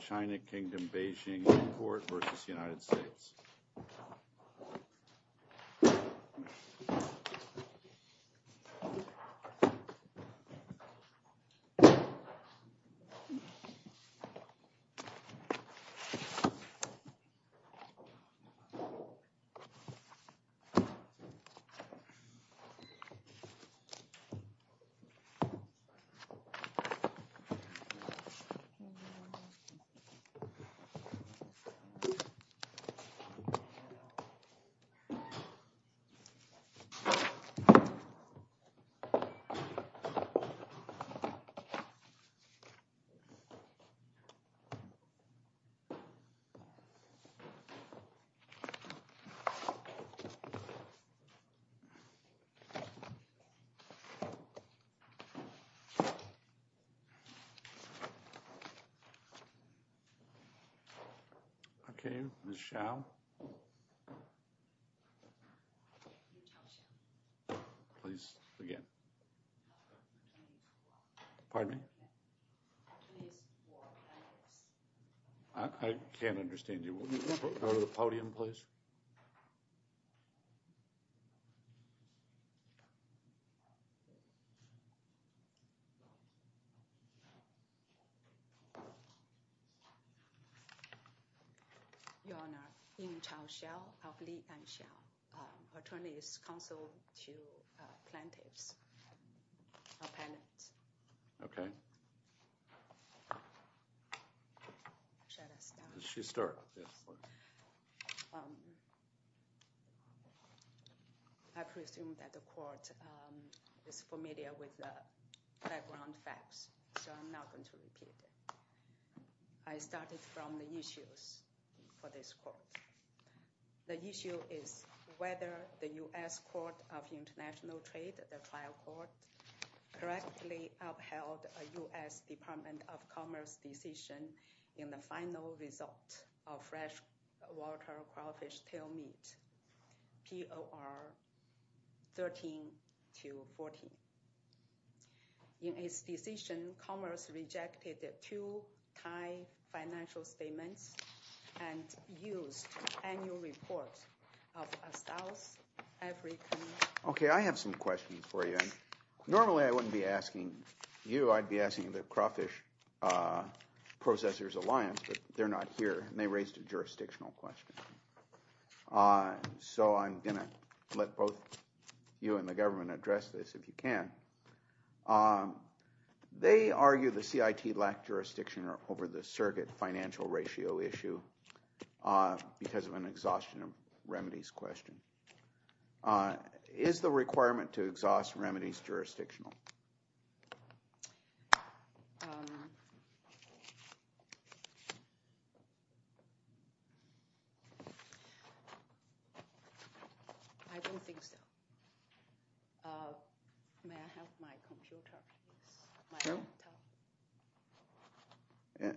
China Kingdom, Beijing Import v. United States China Kingdom, Beijing Import v. United States In Chao Xiao of Li Anxiao, Attorney's Counsel to Plaintiff's Appellant I started from the issues for this court. The issue is whether the U.S. Court of International Trade, the trial court, correctly upheld a U.S. Department of Commerce decision in the final result of freshwater crawfish tail meat, POR 13-14. In its decision, Commerce rejected two Thai financial statements and used annual reports of a South African... OK, I have some questions for you. Normally I wouldn't be asking you, I'd be asking the Crawfish Processors Alliance, but they're not here, and they raised a jurisdictional question. So I'm going to let both you and the government address this, if you can. They argue the CIT lacked jurisdiction over the surrogate financial ratio issue because of an exhaustion of remedies question. Is the requirement to exhaust remedies jurisdictional? I don't think so. May I have my computer, please?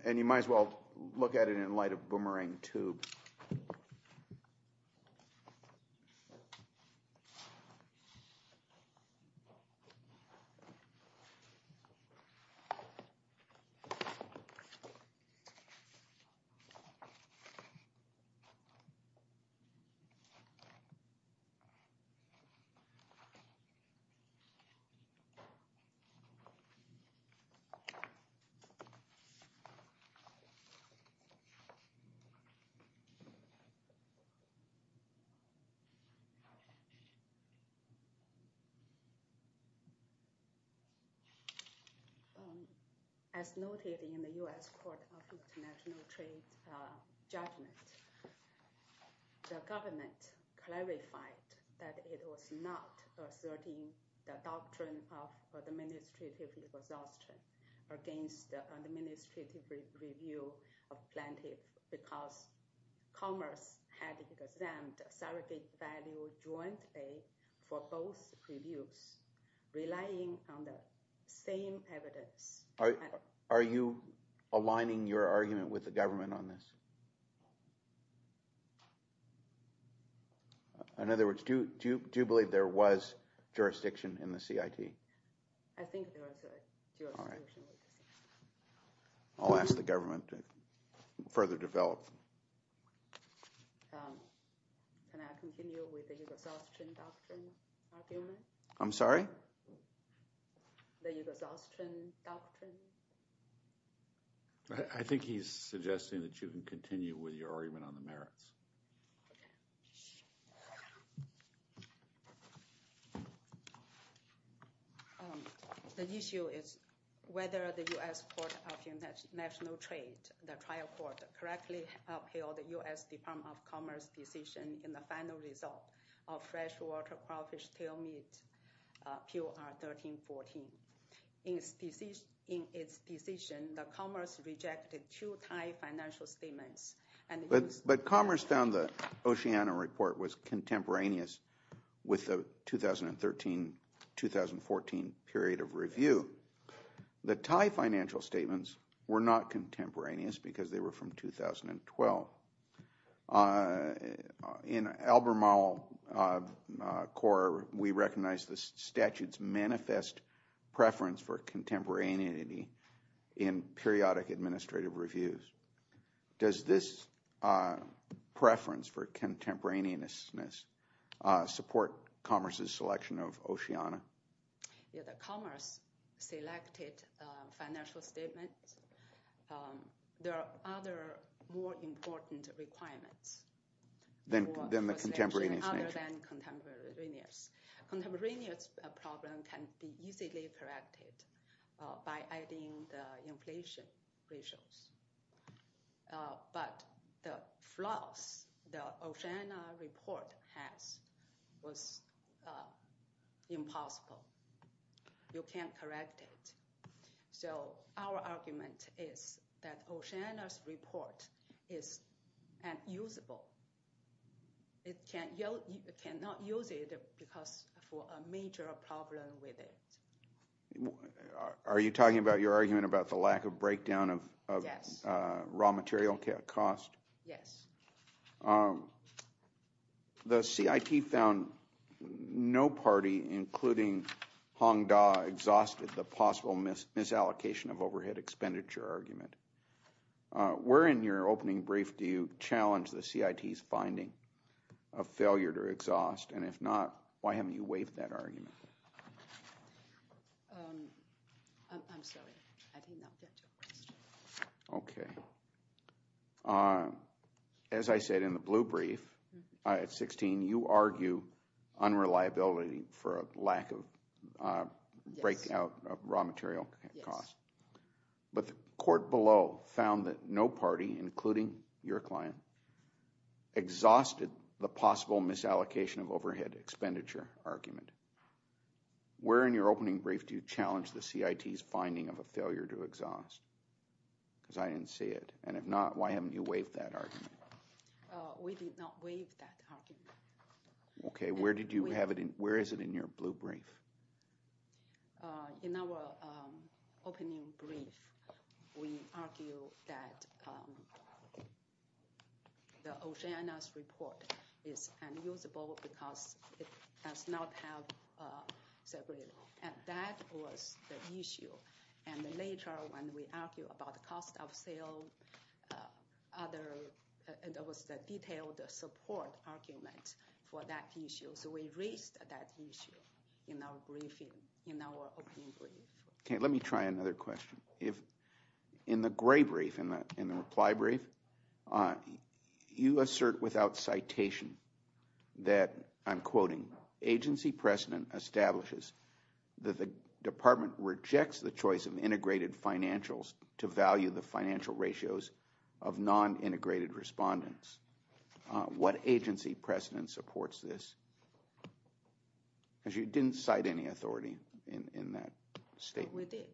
And you might as well look at it in light of boomerang tube. As noted in the U.S. Court of International Trade judgment, the government clarified that it was not asserting the doctrine of administrative exhaustion against the administrative review of plaintiff because Commerce had examined surrogate value jointly for both reviews, relying on the same evidence. Are you aligning your argument with the government on this? In other words, do you believe there was jurisdiction in the CIT? I think there was jurisdiction. I'll ask the government to further develop. Can I continue with the exhaustion doctrine argument? I'm sorry? The exhaustion doctrine? I think he's suggesting that you can continue with your argument on the merits. The issue is whether the U.S. Court of International Trade, the trial court, correctly upheld the U.S. Department of Commerce decision in the final result of freshwater crawfish tail meat, PUR 1314. In its decision, Commerce rejected two Thai financial statements. But Commerce found the Oceania report was contemporaneous with the 2013-2014 period of review. The Thai financial statements were not contemporaneous because they were from 2012. Now, in Albemarle Court, we recognize the statute's manifest preference for contemporaneity in periodic administrative reviews. Does this preference for contemporaneousness support Commerce's selection of Oceania? Commerce selected financial statements. There are other more important requirements. Than the contemporaneous nature? Other than contemporaneous. Contemporaneous problem can be easily corrected by adding the inflation ratios. But the flaws the Oceania report has was impossible. You can't correct it. So our argument is that Oceania's report is unusable. It cannot use it because for a major problem with it. Are you talking about your argument about the lack of breakdown of raw material cost? Yes. The CIT found no party, including Hongda, exhausted the possible misallocation of overhead expenditure argument. Where in your opening brief do you challenge the CIT's finding of failure to exhaust? And if not, why haven't you waived that argument? I'm sorry. I did not get your question. Okay. As I said in the blue brief at 16, you argue unreliability for a lack of breakdown of raw material cost. But the court below found that no party, including your client, exhausted the possible misallocation of overhead expenditure argument. Where in your opening brief do you challenge the CIT's finding of a failure to exhaust? Because I didn't see it. And if not, why haven't you waived that argument? We did not waive that argument. Where is it in your blue brief? In our opening brief, we argue that Oceana's report is unusable because it does not have separate. And that was the issue. And later when we argue about the cost of sale, there was a detailed support argument for that issue. So we raised that issue in our briefing, in our opening brief. Okay, let me try another question. In the gray brief, in the reply brief, you assert without citation that, I'm quoting, agency precedent establishes that the department rejects the choice of integrated financials to value the financial ratios of non-integrated respondents. What agency precedent supports this? Because you didn't cite any authority in that statement. With it.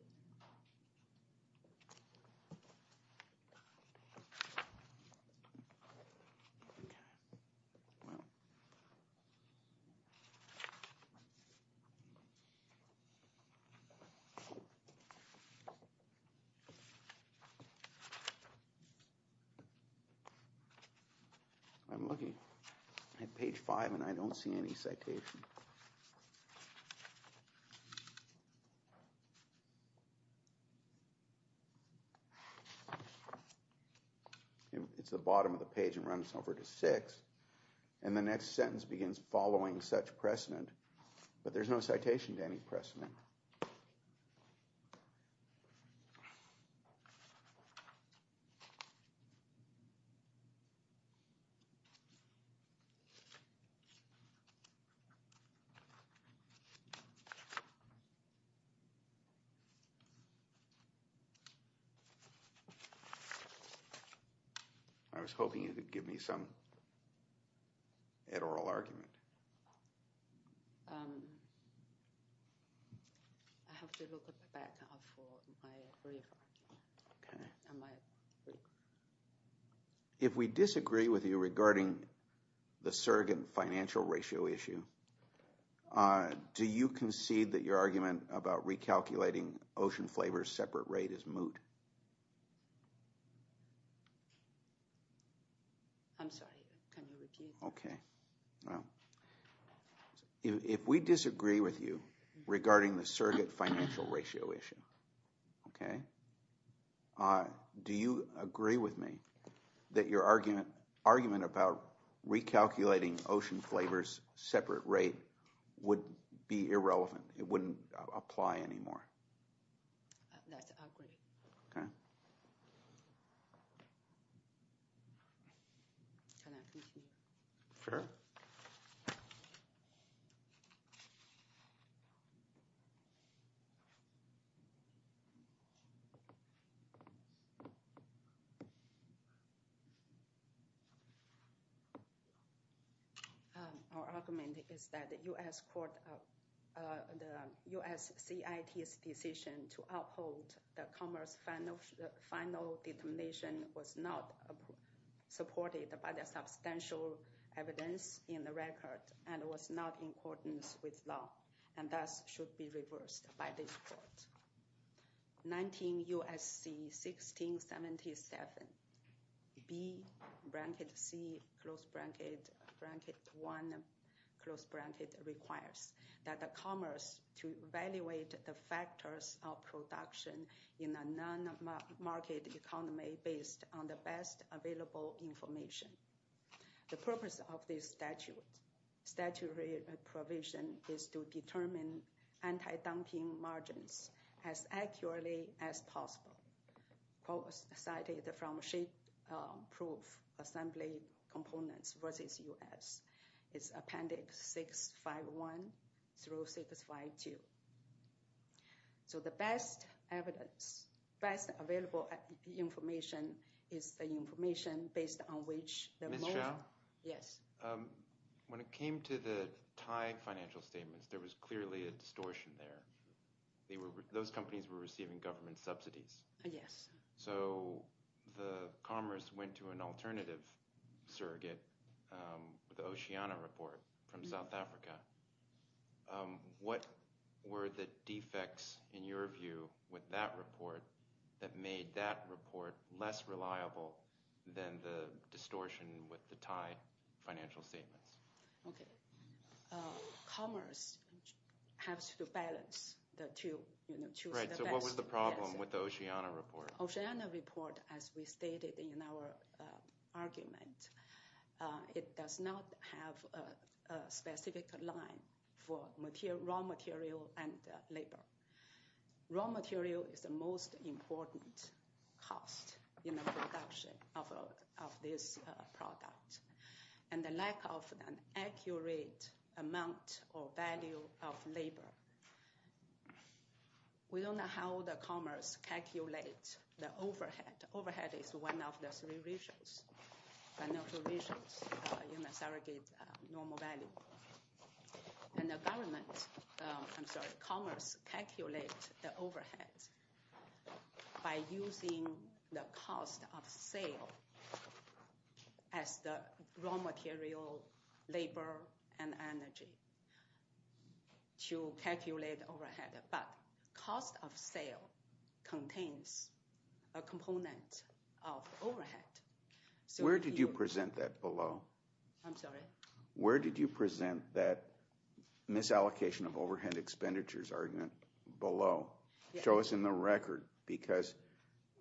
I'm looking at page five and I don't see any citation. It's the bottom of the page and runs over to six. And the next sentence begins, following such precedent. But there's no citation to any precedent. Okay. I was hoping you could give me some oral argument. I have to look at the back of my brief. Okay. If we disagree with you regarding the surrogate financial ratio issue, do you concede that your argument about recalculating Ocean Flavor's separate rate is moot? I'm sorry, can you repeat that? Okay. If we disagree with you regarding the surrogate financial ratio issue, do you agree with me that your argument about recalculating Ocean Flavor's separate rate would be irrelevant? It wouldn't apply anymore? That's agreed. Okay. Sure. Okay. Our argument is that the U.S. CIT's decision to uphold the Commerce Final Determination was not supported by the substantial evidence in the record and was not in accordance with law and thus should be reversed by this court. 19 U.S.C. 1677B-C-1 requires that the Commerce to evaluate the factors of production in a non-market economy based on the best available information. The purpose of this statutory provision is to determine anti-dumping margins as accurately as possible. Cited from shape proof assembly components versus U.S. is appendix 651 through 652. So the best evidence, best available information is the information based on which... Ms. Zhao? Yes. When it came to the Thai financial statements, there was clearly a distortion there. Those companies were receiving government subsidies. Yes. So the Commerce went to an alternative surrogate with the Oceana report from South Africa. What were the defects in your view with that report that made that report less reliable than the distortion with the Thai financial statements? Okay. Commerce has to balance the two. Right, so what was the problem with the Oceana report? The Oceana report, as we stated in our argument, it does not have a specific line for raw material and labor. Raw material is the most important cost in the production of this product. And the lack of an accurate amount or value of labor. We don't know how the Commerce calculates the overhead. Overhead is one of the three regions in the surrogate normal value. And the Commerce calculates the overhead by using the cost of sale as the raw material, labor, and energy. To calculate overhead. But cost of sale contains a component of overhead. Where did you present that below? I'm sorry? Where did you present that misallocation of overhead expenditures argument below? Show us in the record. Because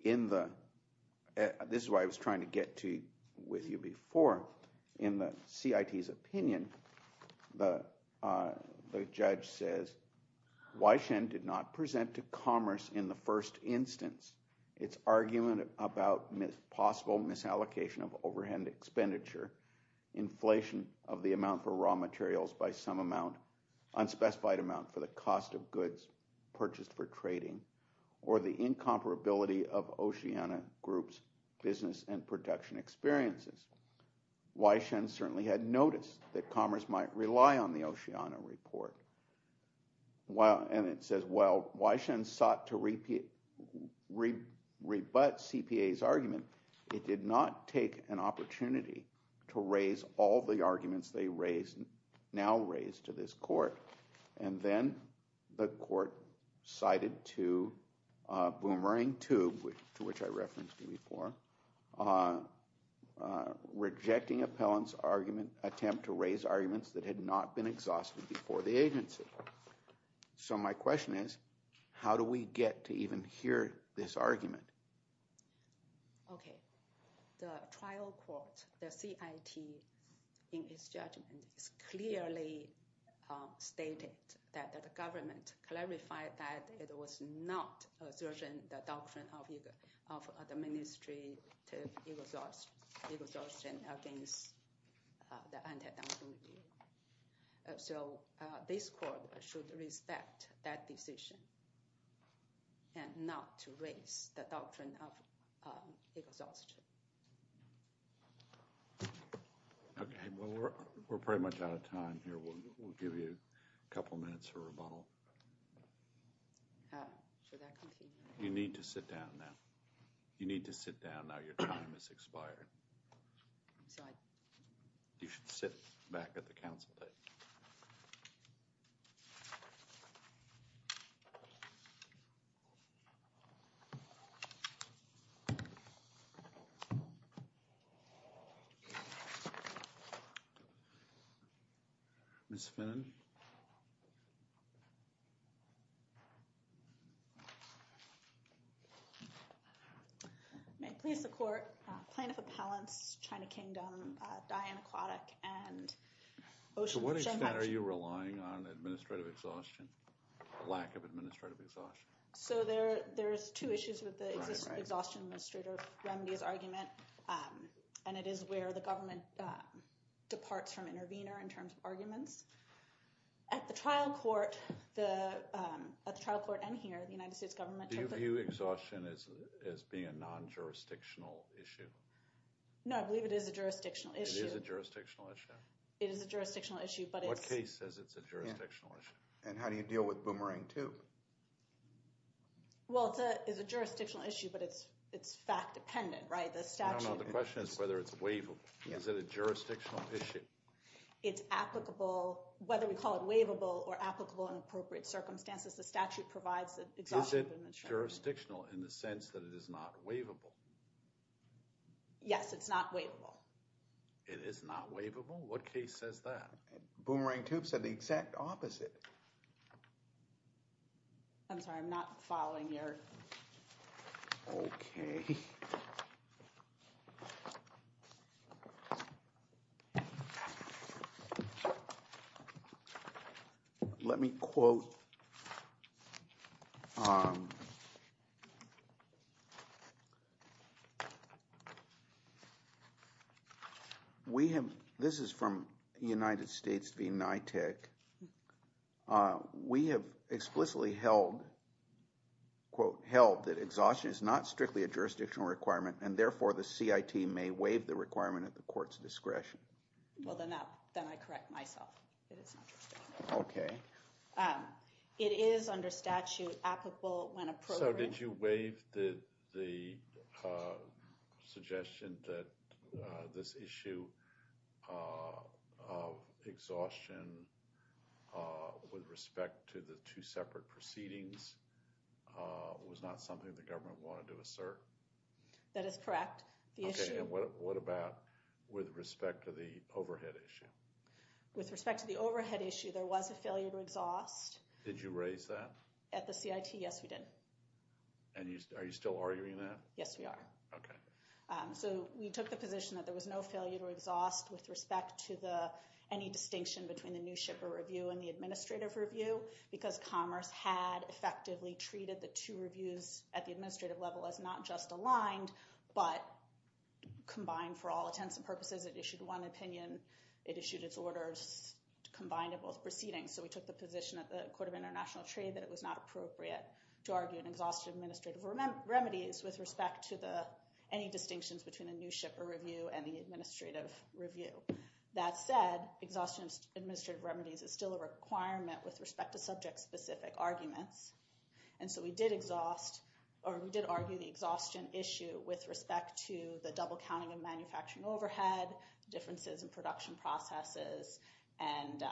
in the, this is what I was trying to get to with you before. In the CIT's opinion, the judge says, Weishen did not present to Commerce in the first instance its argument about possible misallocation of overhead expenditure, inflation of the amount for raw materials by some amount, unspecified amount for the cost of goods purchased for trading, or the incomparability of Oceana Group's business and production experiences. Weishen certainly had noticed that Commerce might rely on the Oceana report. And it says, while Weishen sought to rebut CPA's argument, it did not take an opportunity to raise all the arguments they now raise to this court. And then the court cited to Boomerang 2, to which I referenced you before, rejecting Appellant's attempt to raise arguments that had not been exhausted before the agency. So my question is, how do we get to even hear this argument? Okay, the trial court, the CIT, in its judgment, clearly stated that the government clarified that it was not asserting the doctrine of administrative exhaustion against the anti-dominant view. So this court should respect that decision and not to raise the doctrine of exhaustion. Okay, well we're pretty much out of time here. We'll give you a couple minutes for rebuttal. You need to sit down now. You need to sit down now. Your time has expired. So I... You should sit back at the council. Ms. Finnan? Ms. Finnan? May it please the court, Plaintiff Appellants, China Kingdom, Diane Aquatic, and Ocean... To what extent are you relying on administrative exhaustion, lack of administrative exhaustion? So there's two issues with the Exhaustion Administrator Remedy's argument, and it is where the government departs from intervener in terms of arguments. At the trial court, at the trial court and here, the United States government... Do you view exhaustion as being a non-jurisdictional issue? No, I believe it is a jurisdictional issue. It is a jurisdictional issue? It is a jurisdictional issue, but it's... What case says it's a jurisdictional issue? And how do you deal with Boomerang 2? Well, it's a jurisdictional issue, but it's fact-dependent, right? No, no, the question is whether it's waivable. Is it a jurisdictional issue? It's applicable, whether we call it waivable or applicable in appropriate circumstances, the statute provides that exhaustion... Is it jurisdictional in the sense that it is not waivable? Yes, it's not waivable. It is not waivable? What case says that? Boomerang 2 said the exact opposite. I'm sorry, I'm not following your... Okay. Okay. Let me quote... We have... This is from United States v. NITIC. We have explicitly held... The CIT may waive the requirement at the court's discretion. Well, then I correct myself. It is not jurisdictional. Okay. It is under statute applicable when a program... So did you waive the suggestion that this issue of exhaustion with respect to the two separate proceedings was not something the government wanted to assert? That is correct. Okay, and what about with respect to the overhead issue? With respect to the overhead issue, there was a failure to exhaust. Did you raise that? At the CIT, yes, we did. And are you still arguing that? Yes, we are. Okay. So we took the position that there was no failure to exhaust with respect to any distinction between the new shipper review and the administrative review because Commerce had effectively treated the two reviews at the administrative level as not just aligned but combined for all intents and purposes. It issued one opinion. It issued its orders combined of both proceedings. So we took the position at the Court of International Trade that it was not appropriate to argue an exhaustive administrative remedies with respect to any distinctions between a new shipper review and the administrative review. That said, exhaustive administrative remedies is still a requirement with respect to subject-specific arguments. And so we did argue the exhaustion issue with respect to the double counting of manufacturing overhead, differences in production processes, and...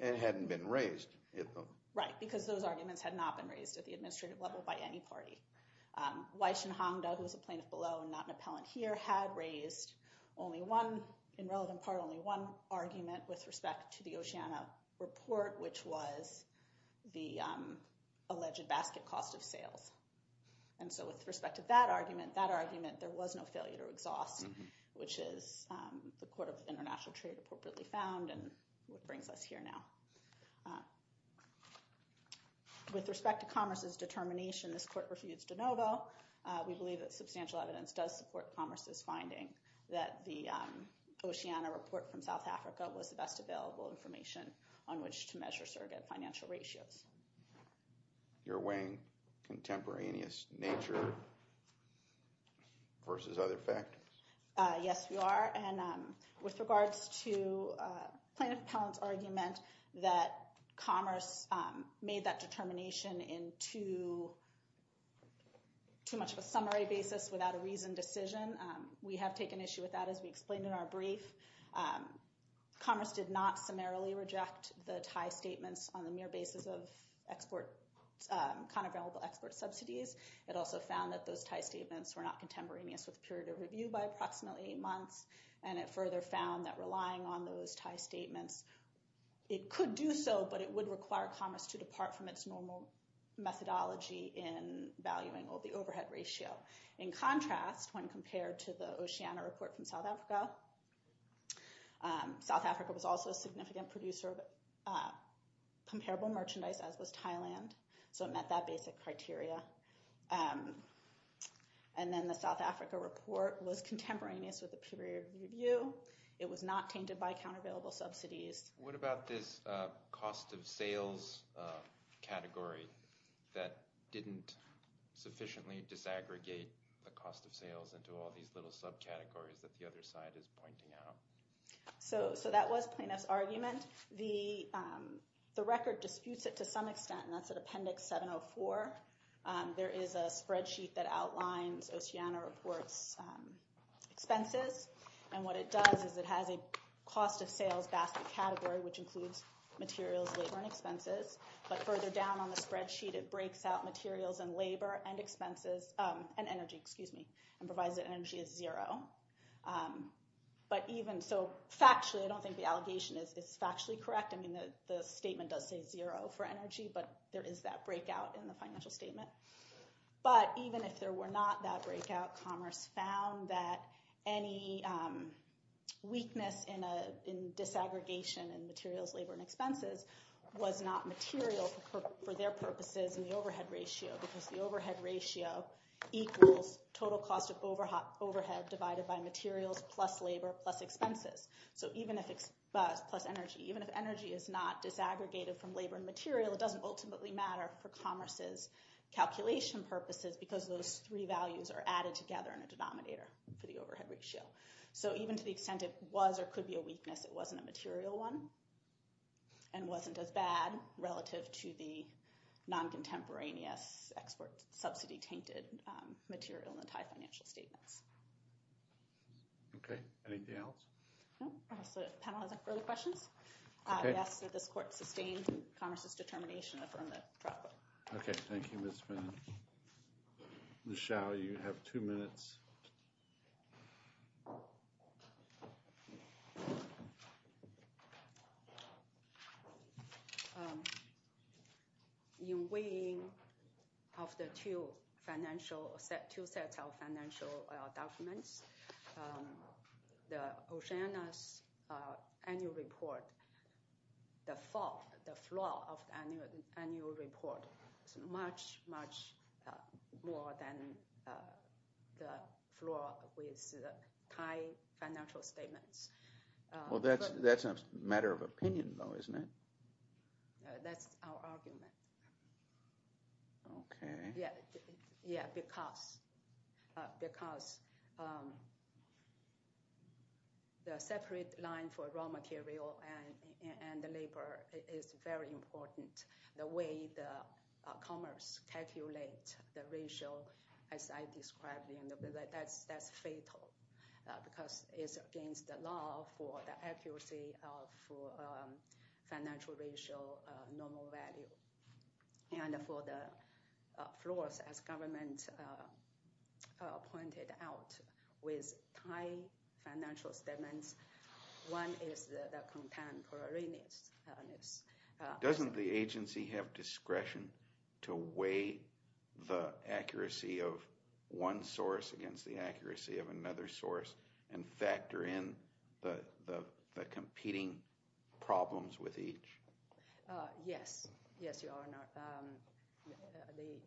It hadn't been raised. Right, because those arguments had not been raised at the administrative level by any party. Weishen Hongda, who is a plaintiff below and not an appellant here, had raised only one, in relevant part, only one argument with respect to the Oceana report, which was the alleged basket cost of sales. And so with respect to that argument, that argument, there was no failure to exhaust, which is the Court of International Trade appropriately found and what brings us here now. With respect to Commerce's determination, this Court refutes de novo. We believe that substantial evidence does support Commerce's finding that the Oceana report from South Africa was the best available information on which to measure surrogate financial ratios. You're weighing contemporaneous nature versus other factors? Yes, we are. And with regards to Plaintiff Appellant's argument that Commerce made that determination in too much of a summary basis without a reasoned decision, we have taken issue with that, as we explained in our brief. Commerce did not summarily reject the Thai statements on the mere basis of export, non-available export subsidies. It also found that those Thai statements were not contemporaneous with the period of review by approximately eight months. And it further found that relying on those Thai statements, it could do so, but it would require Commerce to depart from its normal methodology in valuing all the overhead ratio. In contrast, when compared to the Oceana report from South Africa, South Africa was also a significant producer of comparable merchandise, as was Thailand. So it met that basic criteria. And then the South Africa report was contemporaneous with the period of review. It was not tainted by countervailable subsidies. What about this cost of sales category that didn't sufficiently disaggregate the cost of sales into all these little subcategories that the other side is pointing out? So that was Planoff's argument. The record disputes it to some extent, and that's at Appendix 704. There is a spreadsheet that outlines Oceana report's expenses. And what it does is it has a cost of sales basket category, which includes materials, labor, and expenses. But further down on the spreadsheet, it breaks out materials and labor and expenses, and energy, excuse me, and provides that energy is zero. But even so, factually, I don't think the allegation is factually correct. I mean, the statement does say zero for energy, but there is that breakout in the financial statement. But even if there were not that breakout, Commerce found that any weakness in disaggregation in materials, labor, and expenses was not material for their purposes in the overhead ratio, because the overhead ratio equals total cost of overhead divided by materials plus labor plus expenses. So even if it's plus energy, even if energy is not disaggregated from labor and material, it doesn't ultimately matter for Commerce's calculation purposes because those three values are added together in a denominator for the overhead ratio. So even to the extent it was or could be a weakness, it wasn't a material one and wasn't as bad relative to the non-contemporaneous export subsidy-tainted material in the Thai financial statements. Okay, anything else? No, I guess the panel has no further questions. I guess that this court sustains in Commerce's determination to affirm the trial court. Okay, thank you, Ms. Finn. Ms. Schall, you have two minutes. In weighing of the two sets of financial documents, Oceana's annual report, the flaw of the annual report is much, much more than the flaw with the Thai financial statements. Well, that's a matter of opinion, though, isn't it? That's our argument. Okay. Yeah, because the separate line for raw material and the labor is very important. The way Commerce calculates the ratio, as I described, that's fatal because it's against the law for the accuracy of financial ratio, normal value. And for the flaws, as government pointed out, with Thai financial statements, one is the contemporaneousness. Doesn't the agency have discretion to weigh the accuracy of one source against the accuracy of another source and factor in the competing problems with each? Yes. Yes, Your Honor, they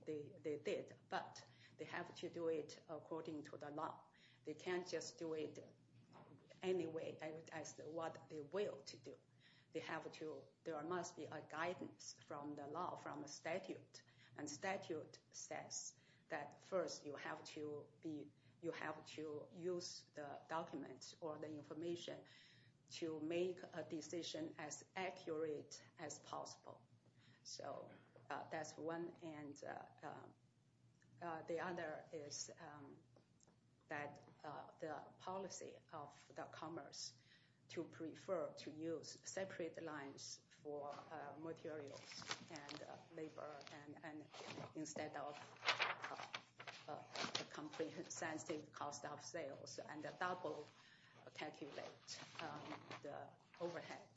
did. But they have to do it according to the law. They can't just do it anyway, as what they will to do. They have to— there must be a guidance from the law, from the statute. And statute says that, first, you have to use the documents or the information to make a decision as accurate as possible. So that's one. And the other is that the policy of Commerce to prefer to use separate lines for materials and labor instead of a comprehensive cost of sales and double calculate the overhead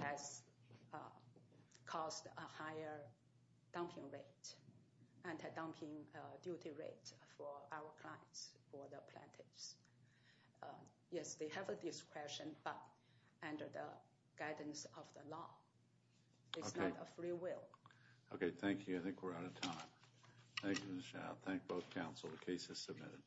has caused a higher dumping rate and a dumping duty rate for our clients, for the plaintiffs. Yes, they have a discretion, but under the guidance of the law. It's not a free will. Okay, thank you. I think we're out of time. Thank you, Ms. Zhao. Thank both counsel. The case is submitted.